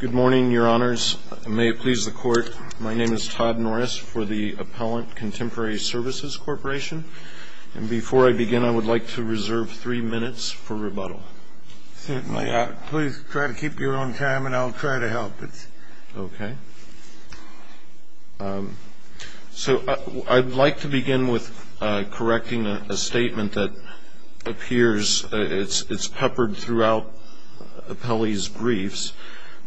Good morning, Your Honors. May it please the Court, my name is Todd Norris for the Appellant Contemporary Services Corporation. And before I begin, I would like to reserve three minutes for rebuttal. Certainly. Please try to keep your own time and I'll try to help. Okay. So I'd like to begin with correcting a statement that appears, it's peppered throughout appellees' briefs,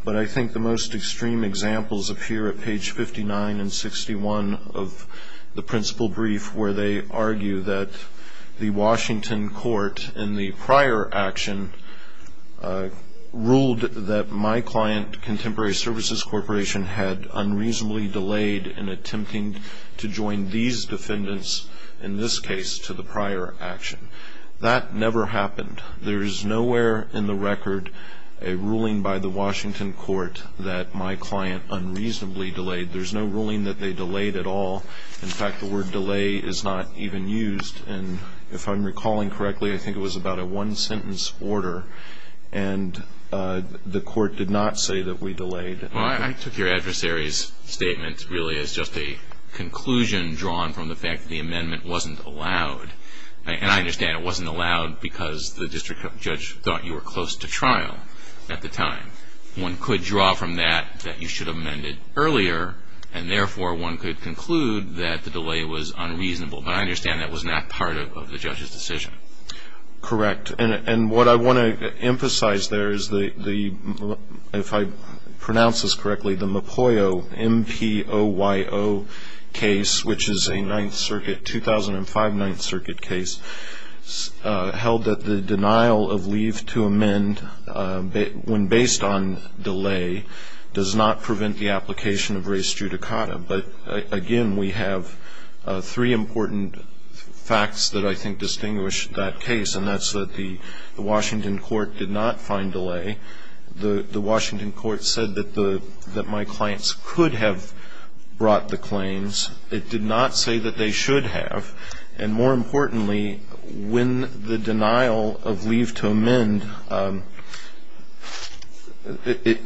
but I think the most extreme examples appear at page 59 and 61 of the principal brief where they argue that the Washington court in the prior action ruled that my client, Contemporary Services Corporation, had unreasonably delayed in attempting to join these defendants, in this case, to the prior action. That never happened. There is nowhere in the record a ruling by the Washington court that my client unreasonably delayed. There's no ruling that they delayed at all. In fact, the word delay is not even used. And if I'm recalling correctly, I think it was about a one-sentence order. And the court did not say that we delayed. Well, I took your adversary's statement really as just a conclusion drawn from the fact that the amendment wasn't allowed. And I understand it wasn't allowed because the district judge thought you were close to trial at the time. One could draw from that that you should have amended earlier, and therefore one could conclude that the delay was unreasonable. But I understand that was not part of the judge's decision. Correct. And what I want to emphasize there is the, if I pronounce this correctly, the Mapoyo, M-P-O-Y-O case, which is a Ninth Circuit, 2005 Ninth Circuit case, held that the denial of leave to amend when based on delay does not prevent the application of res judicata. But, again, we have three important facts that I think distinguish that case, and that's that the Washington court did not find delay. The Washington court said that my clients could have brought the claims. It did not say that they should have. And more importantly, when the denial of leave to amend, it,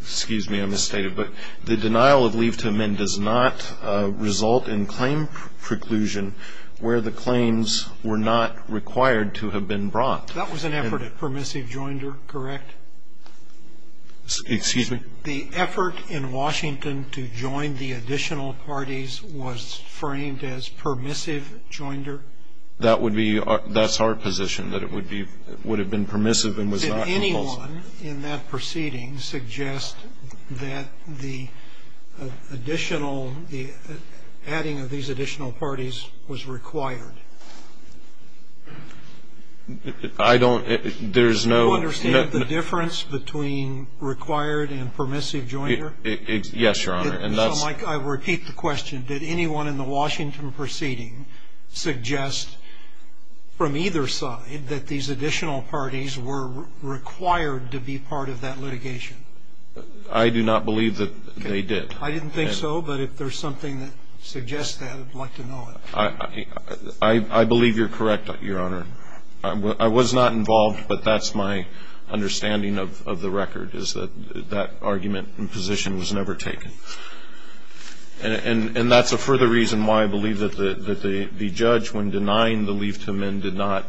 excuse me, I misstated, but the denial of leave to amend does not result in claim preclusion where the claims were not required to have been brought. That was an effort at permissive joinder, correct? Excuse me? The effort in Washington to join the additional parties was framed as permissive joinder? That would be our, that's our position, that it would be, would have been permissive and was not compulsive. Did anyone in that proceeding suggest that the additional, the adding of these additional parties was required? I don't, there's no. Do you understand the difference between required and permissive joinder? Yes, Your Honor, and that's. I repeat the question. Did anyone in the Washington proceeding suggest from either side that these additional parties were required to be part of that litigation? I do not believe that they did. I didn't think so, but if there's something that suggests that, I'd like to know it. I believe you're correct, Your Honor. I was not involved, but that's my understanding of the record, is that that argument and position was never taken. And that's a further reason why I believe that the judge, when denying the leave to amend, did not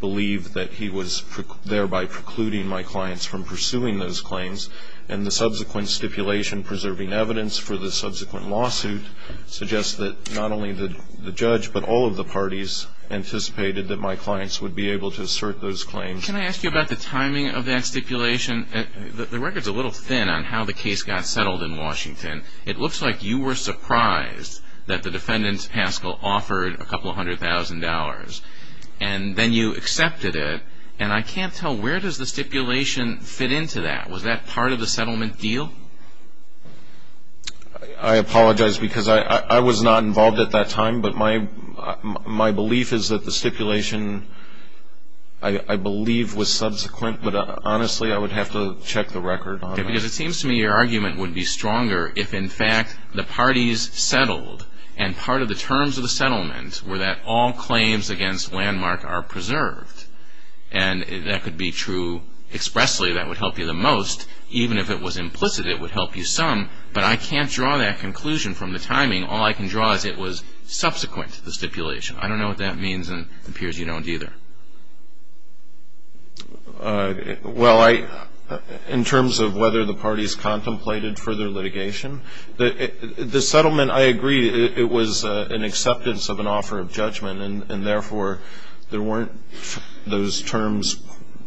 believe that he was thereby precluding my clients from pursuing those claims. And the subsequent stipulation preserving evidence for the subsequent lawsuit suggests that not only the judge, but all of the parties anticipated that my clients would be able to assert those claims. Can I ask you about the timing of that stipulation? The record's a little thin on how the case got settled in Washington. It looks like you were surprised that the defendant, Haskell, offered a couple hundred thousand dollars, and then you accepted it. And I can't tell, where does the stipulation fit into that? Was that part of the settlement deal? I apologize, because I was not involved at that time. But my belief is that the stipulation, I believe, was subsequent. But honestly, I would have to check the record. Because it seems to me your argument would be stronger if, in fact, the parties settled, and part of the terms of the settlement were that all claims against Landmark are preserved. And that could be true expressly. That would help you the most. Even if it was implicit, it would help you some. But I can't draw that conclusion from the timing. All I can draw is it was subsequent to the stipulation. I don't know what that means, and it appears you don't either. Well, in terms of whether the parties contemplated further litigation, the settlement, I agree, it was an acceptance of an offer of judgment. And therefore, there weren't those terms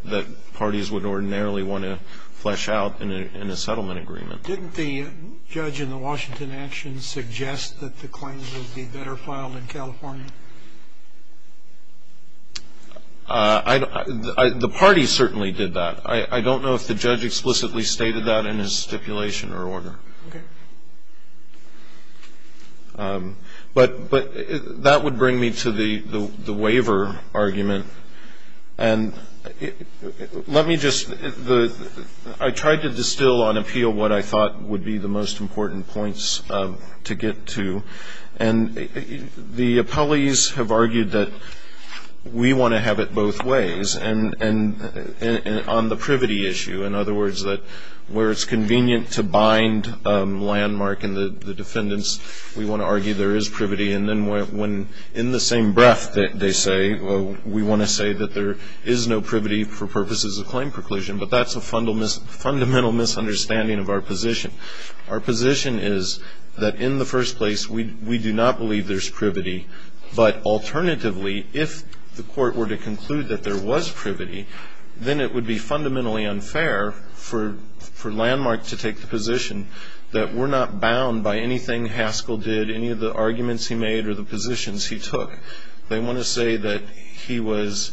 that parties would ordinarily want to flesh out in a settlement agreement. Didn't the judge in the Washington actions suggest that the claims would be better filed in California? The party certainly did that. I don't know if the judge explicitly stated that in his stipulation or order. Okay. But that would bring me to the waiver argument. And let me just the ‑‑ I tried to distill on appeal what I thought would be the most important points to get to. And the appellees have argued that we want to have it both ways. And on the privity issue, in other words, that where it's convenient to bind landmark and the defendants, we want to argue there is privity. And then when in the same breath they say, well, we want to say that there is no privity for purposes of claim preclusion. But that's a fundamental misunderstanding of our position. Our position is that in the first place, we do not believe there's privity. But alternatively, if the court were to conclude that there was privity, then it would be fundamentally unfair for landmark to take the position that we're not bound by anything Haskell did, any of the arguments he made or the positions he took. They want to say that he was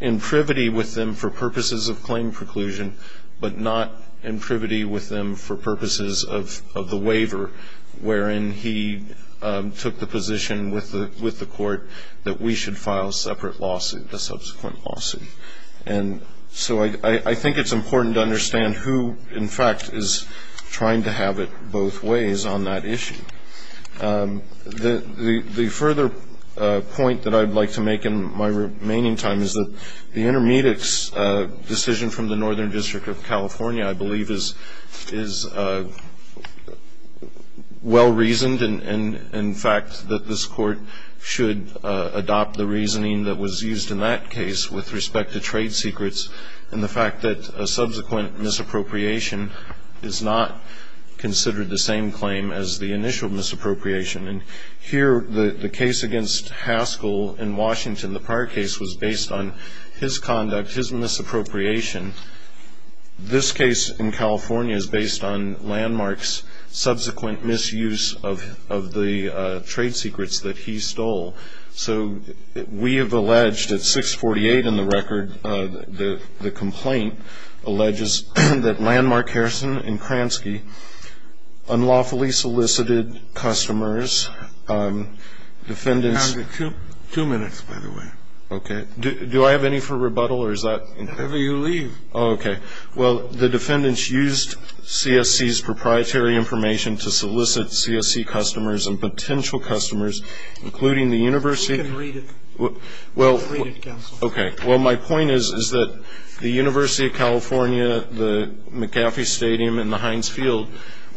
in privity with them for purposes of claim preclusion, but not in privity with them for purposes of the waiver, wherein he took the position with the court that we should file separate lawsuit, a subsequent lawsuit. And so I think it's important to understand who, in fact, is trying to have it both ways on that issue. The further point that I'd like to make in my remaining time is that the Intermedics decision from the Northern District of California, I believe, is well-reasoned. And, in fact, that this court should adopt the reasoning that was used in that case with respect to trade secrets and the fact that a subsequent misappropriation is not considered the same claim as the initial misappropriation. And here the case against Haskell in Washington, the prior case, was based on his conduct, his misappropriation. This case in California is based on landmark's subsequent misuse of the trade secrets that he stole. So we have alleged at 648 in the record the complaint alleges that Landmark, Harrison, and Kransky unlawfully solicited customers, defendants. You have two minutes, by the way. Okay. Do I have any for rebuttal, or is that? Whatever you leave. Oh, okay. Well, the defendants used CSC's proprietary information to solicit CSC customers and potential customers, including the university. You can read it. Read it, counsel. Okay. Well, my point is that the University of California, the McAfee Stadium, and the Heinz Field,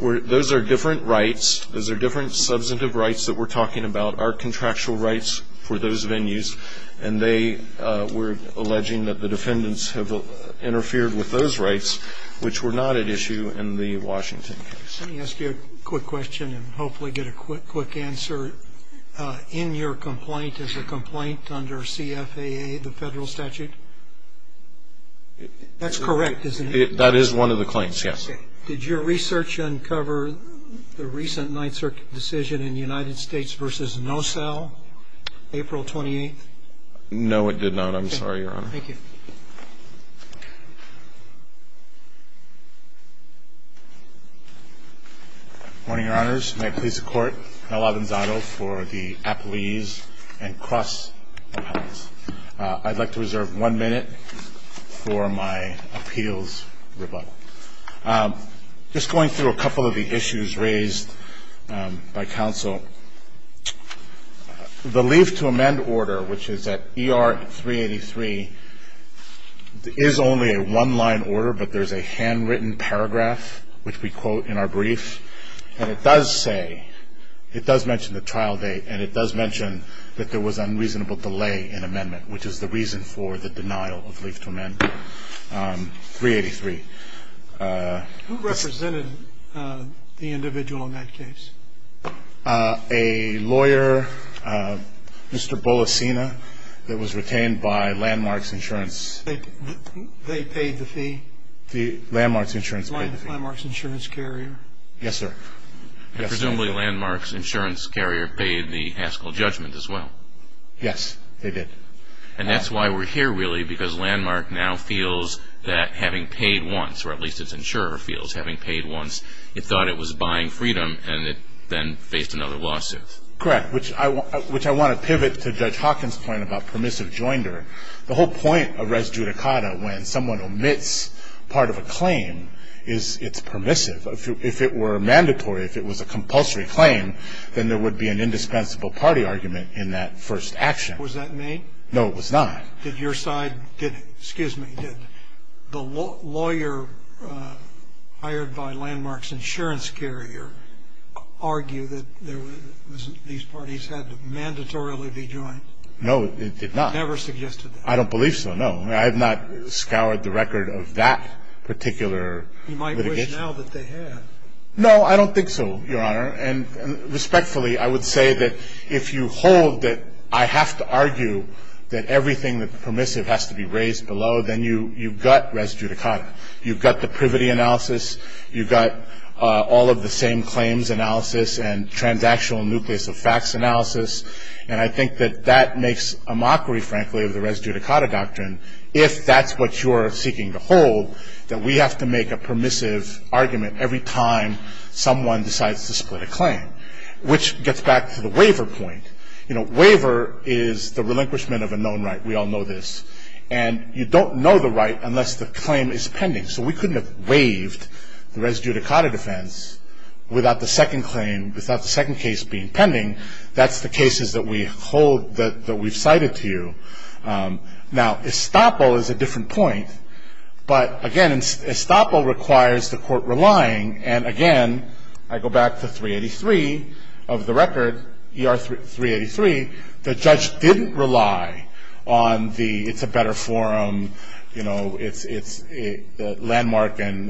those are different rights. Those are different substantive rights that we're talking about, our contractual rights for those venues. And they were alleging that the defendants have interfered with those rights, which were not at issue in the Washington case. Let me ask you a quick question and hopefully get a quick answer. In your complaint, is the complaint under CFAA, the federal statute? That's correct, isn't it? That is one of the claims, yes. Did your research uncover the recent Ninth Circuit decision in the United States versus NOSAL, April 28th? No, it did not. I'm sorry, Your Honor. Thank you. Good morning, Your Honors. May it please the Court. Mel Avanzado for the appellees and cross-appellants. I'd like to reserve one minute for my appeals rebuttal. Just going through a couple of the issues raised by counsel, the leave to amend order, which is at ER 383, is only a one-line order, but there's a handwritten paragraph which we quote in our brief. And it does say, it does mention the trial date, and it does mention that there was unreasonable delay in amendment, which is the reason for the denial of leave to amend 383. Who represented the individual in that case? A lawyer, Mr. Bolasina, that was retained by Landmark's insurance. They paid the fee? Landmark's insurance paid the fee. Landmark's insurance carrier? Yes, sir. Presumably Landmark's insurance carrier paid the Haskell judgment as well. Yes, they did. And that's why we're here, really, because Landmark now feels that having paid once, or at least its insurer feels, having paid once, it thought it was buying freedom, and it then faced another lawsuit. Correct, which I want to pivot to Judge Hawkins' point about permissive joinder. The whole point of res judicata, when someone omits part of a claim, is it's permissive. If it were mandatory, if it was a compulsory claim, then there would be an indispensable party argument in that first action. Was that made? No, it was not. Did your side, did the lawyer hired by Landmark's insurance carrier argue that these parties had to mandatorily be joined? No, it did not. Never suggested that? I don't believe so, no. I have not scoured the record of that particular litigation. You might wish now that they had. No, I don't think so, Your Honor. And respectfully, I would say that if you hold that I have to argue that everything that's permissive has to be raised below, then you've got res judicata. You've got the privity analysis. You've got all of the same claims analysis and transactional nucleus of facts analysis. And I think that that makes a mockery, frankly, of the res judicata doctrine. If that's what you're seeking to hold, then we have to make a permissive argument every time someone decides to split a claim, which gets back to the waiver point. You know, waiver is the relinquishment of a known right. We all know this. And you don't know the right unless the claim is pending. So we couldn't have waived the res judicata defense without the second claim, without the second case being pending. That's the cases that we hold that we've cited to you. Now, estoppel is a different point. But, again, estoppel requires the court relying. And, again, I go back to 383 of the record, ER 383. The judge didn't rely on the it's a better forum, you know, it's landmark and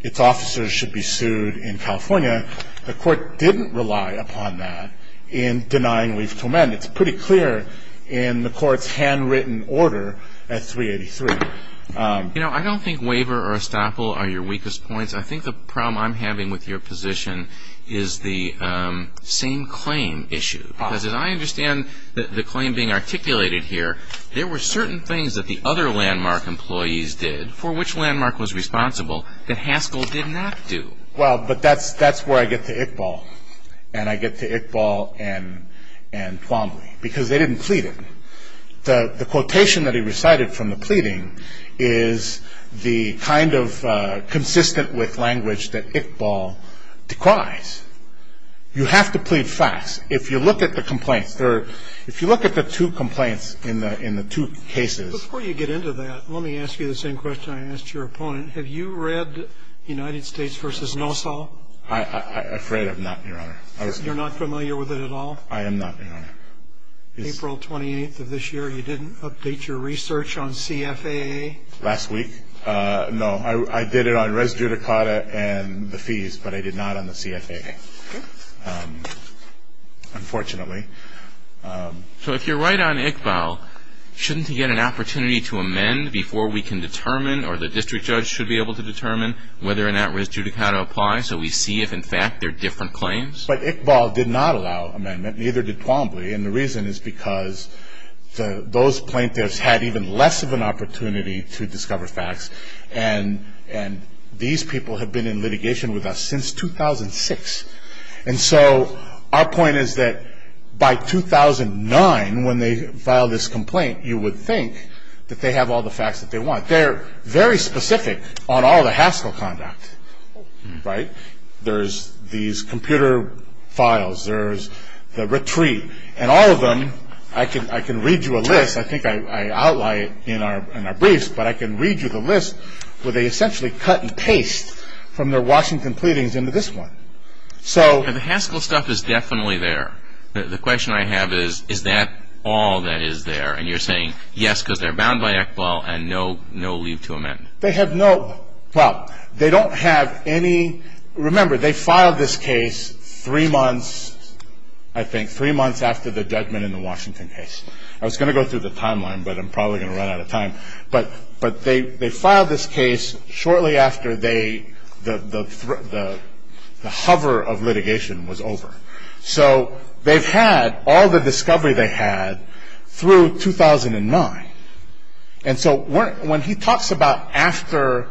its officers should be sued in California. The court didn't rely upon that in denying waive to amend. It's pretty clear in the court's handwritten order at 383. You know, I don't think waiver or estoppel are your weakest points. I think the problem I'm having with your position is the same claim issue. Because as I understand the claim being articulated here, there were certain things that the other landmark employees did, for which landmark was responsible, that Haskell did not do. Well, but that's where I get to Iqbal. And I get to Iqbal and Twombly. Because they didn't plead it. The quotation that he recited from the pleading is the kind of consistent with language that Iqbal decries. You have to plead facts. If you look at the complaints, if you look at the two complaints in the two cases. Before you get into that, let me ask you the same question I asked your opponent. Have you read United States v. NOSAL? I'm afraid I have not, Your Honor. You're not familiar with it at all? I am not, Your Honor. April 28th of this year, you didn't update your research on CFAA? Last week? No, I did it on res judicata and the fees, but I did not on the CFAA, unfortunately. So if you're right on Iqbal, shouldn't he get an opportunity to amend before we can determine or the district judge should be able to determine whether or not res judicata applies so we see if, in fact, they're different claims? But Iqbal did not allow amendment. Neither did Twombly. And the reason is because those plaintiffs had even less of an opportunity to discover facts. And these people have been in litigation with us since 2006. And so our point is that by 2009, when they file this complaint, you would think that they have all the facts that they want. They're very specific on all the hassle conduct, right? There's these computer files. There's the retreat. And all of them, I can read you a list. I think I outline it in our briefs, but I can read you the list where they essentially cut and paste from their Washington pleadings into this one. And the Haskell stuff is definitely there. The question I have is, is that all that is there? And you're saying, yes, because they're bound by Iqbal and no leave to amend. They have no ñ well, they don't have any ñ remember, they filed this case three months, I think, three months after the judgment in the Washington case. I was going to go through the timeline, but I'm probably going to run out of time. But they filed this case shortly after the hover of litigation was over. So they've had all the discovery they had through 2009. And so when he talks about after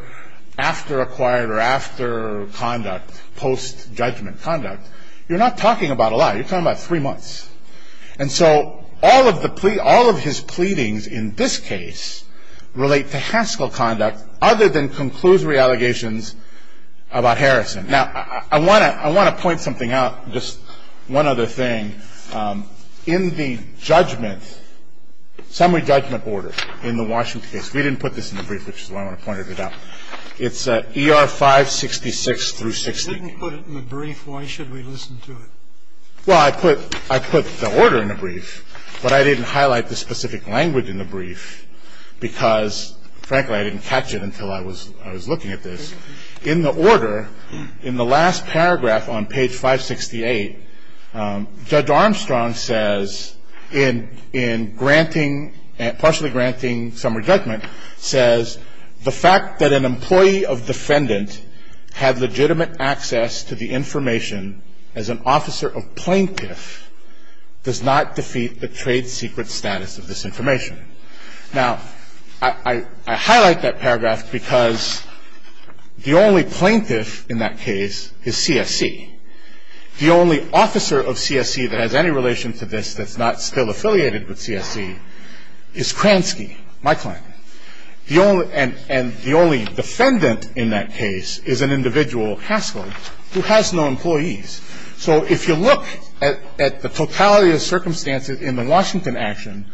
acquired or after conduct, post-judgment conduct, you're not talking about a lot. You're talking about three months. And so all of the ñ all of his pleadings in this case relate to Haskell conduct other than conclusory allegations about Harrison. Now, I want to ñ I want to point something out, just one other thing. In the judgment, summary judgment order in the Washington case, we didn't put this in the brief, which is why I wanted to point it out. It's ER 566 through 16. We didn't put it in the brief. Why should we listen to it? Well, I put ñ I put the order in the brief, but I didn't highlight the specific language in the brief because, frankly, I didn't catch it until I was ñ I was looking at this. In the order, in the last paragraph on page 568, Judge Armstrong says in ñ in granting ñ partially granting summary judgment, says the fact that an employee of defendant had legitimate access to the information as an officer of plaintiff does not defeat the trade secret status of this information. Now, I highlight that paragraph because the only plaintiff in that case is CSC. The only officer of CSC that has any relation to this that's not still affiliated with CSC is Kransky, my client. And the only defendant in that case is an individual, Haskell, who has no employees. So if you look at the totality of circumstances in the Washington action,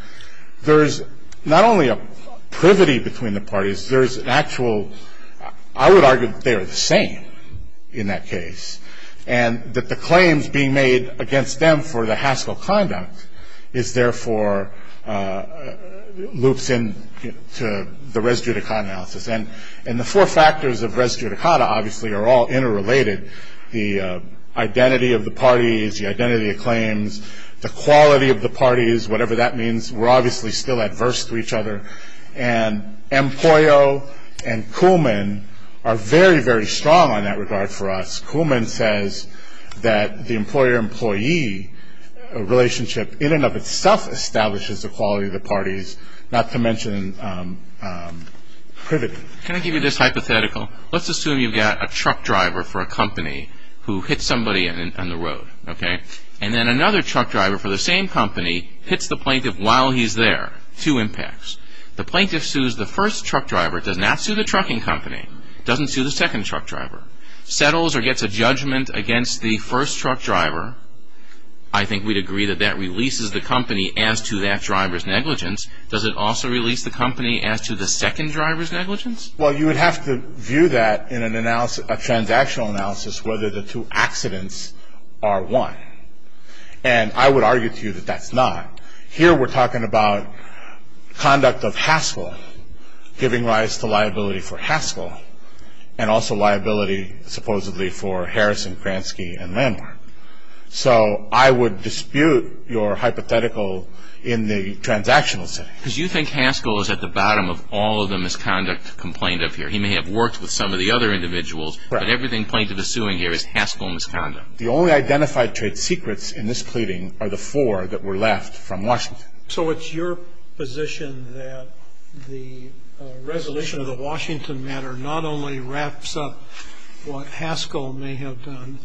there's not only a privity between the parties, there's an actual ñ I would argue that they are the same in that case, and that the claims being made against them for the Haskell conduct is therefore loops in to the res judicata analysis. And the four factors of res judicata obviously are all interrelated, the identity of the parties, the identity of claims, the quality of the parties, whatever that means, we're obviously still adverse to each other. And Empollo and Kuhlman are very, very strong on that regard for us. Kuhlman says that the employer-employee relationship in and of itself establishes the quality of the parties, not to mention privity. Can I give you this hypothetical? Let's assume you've got a truck driver for a company who hits somebody on the road, okay? And then another truck driver for the same company hits the plaintiff while he's there. Two impacts. The plaintiff sues the first truck driver, does not sue the trucking company, doesn't sue the second truck driver, settles or gets a judgment against the first truck driver. I think we'd agree that that releases the company as to that driver's negligence. Does it also release the company as to the second driver's negligence? Well, you would have to view that in a transactional analysis whether the two accidents are one. And I would argue to you that that's not. Here we're talking about conduct of Haskell, giving rise to liability for Haskell, and also liability supposedly for Harrison, Kransky, and Landmark. So I would dispute your hypothetical in the transactional setting. Because you think Haskell is at the bottom of all of the misconduct complained of here. He may have worked with some of the other individuals. Right. But everything plaintiff is suing here is Haskell misconduct. The only identified trade secrets in this pleading are the four that were left from Washington. So it's your position that the resolution of the Washington matter not only wraps up what Haskell may have done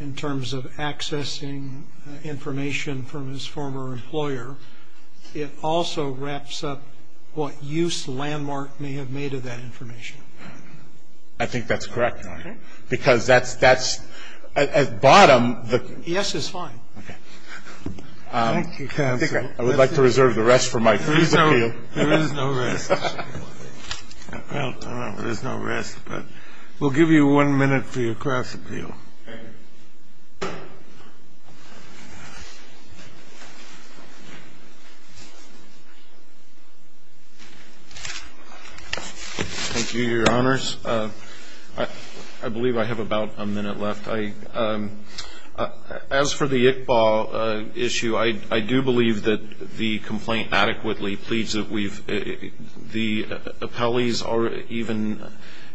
in terms of accessing information from his former employer, it also wraps up what use Landmark may have made of that information. I think that's correct. Okay. Because that's at bottom. Yes is fine. Okay. Thank you, counsel. I would like to reserve the rest for my free appeal. There is no rest. Well, there's no rest. But we'll give you one minute for your cross appeal. Thank you. Thank you, Your Honors. I believe I have about a minute left. As for the ICBA issue, I do believe that the complaint adequately pleads that we've the appellees or even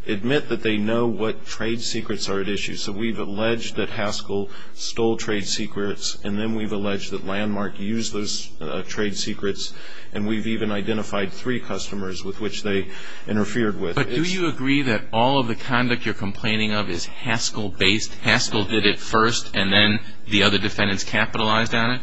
admit that they know what trade secrets are at issue. So we've alleged that Haskell stole trade secrets, and then we've alleged that Landmark used those trade secrets, and we've even identified three customers with which they interfered with. But do you agree that all of the conduct you're complaining of is Haskell-based? Haskell did it first, and then the other defendants capitalized on it?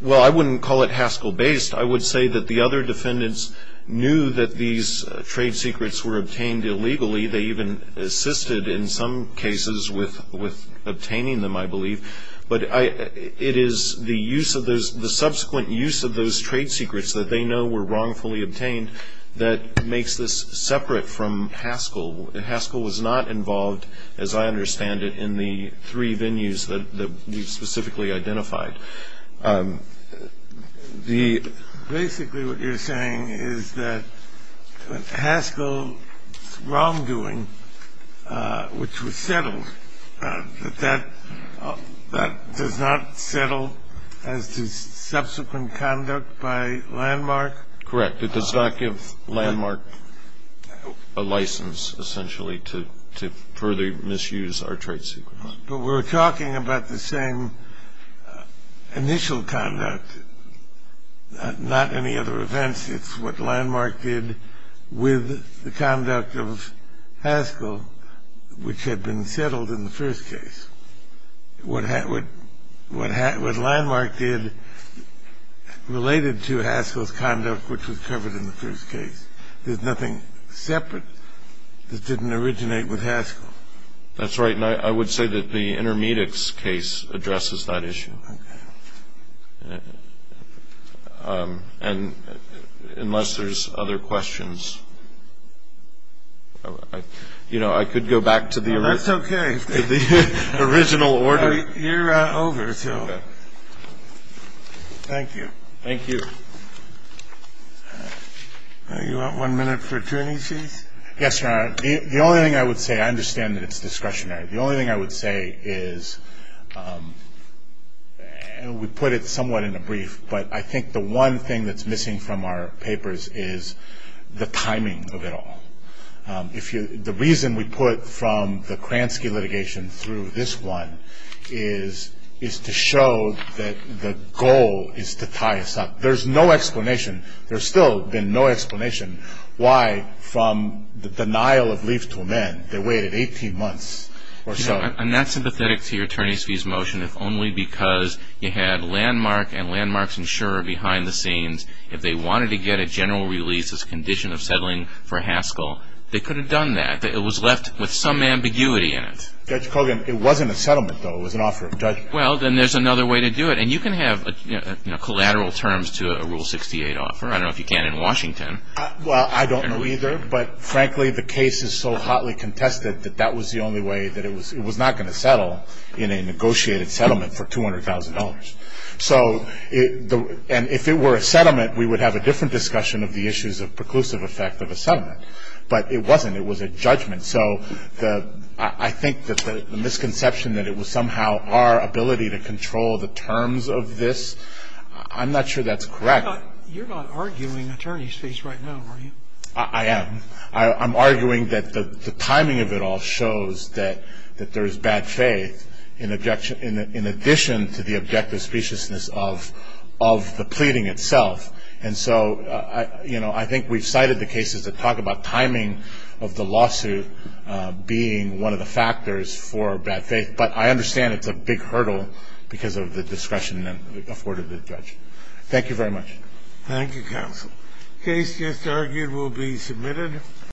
Well, I wouldn't call it Haskell-based. I would say that the other defendants knew that these trade secrets were obtained illegally. They even assisted in some cases with obtaining them, I believe. But it is the subsequent use of those trade secrets that they know were wrongfully obtained that makes this separate from Haskell. Haskell was not involved, as I understand it, in the three venues that we've specifically identified. Basically what you're saying is that Haskell's wrongdoing, which was settled, that that does not settle as to subsequent conduct by Landmark? Correct. It does not give Landmark a license, essentially, to further misuse our trade secrets. But we're talking about the same initial conduct, not any other events. It's what Landmark did with the conduct of Haskell, which had been settled in the first case. What Landmark did related to Haskell's conduct, which was covered in the first case. There's nothing separate that didn't originate with Haskell. That's right, and I would say that the Intermedics case addresses that issue. Okay. And unless there's other questions, you know, I could go back to the original. That's okay. The original order. You're over, so. Thank you. Thank you. You want one minute for two issues? Yes, Your Honor. The only thing I would say, I understand that it's discretionary. The only thing I would say is, and we put it somewhat in a brief, but I think the one thing that's missing from our papers is the timing of it all. The reason we put from the Kransky litigation through this one is to show that the goal is to tie us up. There's no explanation. There's still been no explanation why, from the denial of leave to amend, they waited 18 months or so. I'm not sympathetic to your attorney's fees motion, if only because you had Landmark and Landmark's insurer behind the scenes. If they wanted to get a general release as a condition of settling for Haskell, they could have done that. It was left with some ambiguity in it. Judge Kogan, it wasn't a settlement, though. It was an offer of judgment. Well, then there's another way to do it. And you can have collateral terms to a Rule 68 offer. I don't know if you can in Washington. Well, I don't know either. But, frankly, the case is so hotly contested that that was the only way, that it was not going to settle in a negotiated settlement for $200,000. So, and if it were a settlement, we would have a different discussion of the issues of preclusive effect of a settlement. But it wasn't. It was a judgment. So I think that the misconception that it was somehow our ability to control the terms of this, I'm not sure that's correct. You're not arguing attorney's fees right now, are you? I am. I'm arguing that the timing of it all shows that there is bad faith in addition to the objective speciousness of the pleading itself. And so, you know, I think we've cited the cases that talk about timing of the lawsuit being one of the factors for bad faith. But I understand it's a big hurdle because of the discretion afforded to the judge. Thank you very much. Thank you, counsel. Case just argued will be submitted.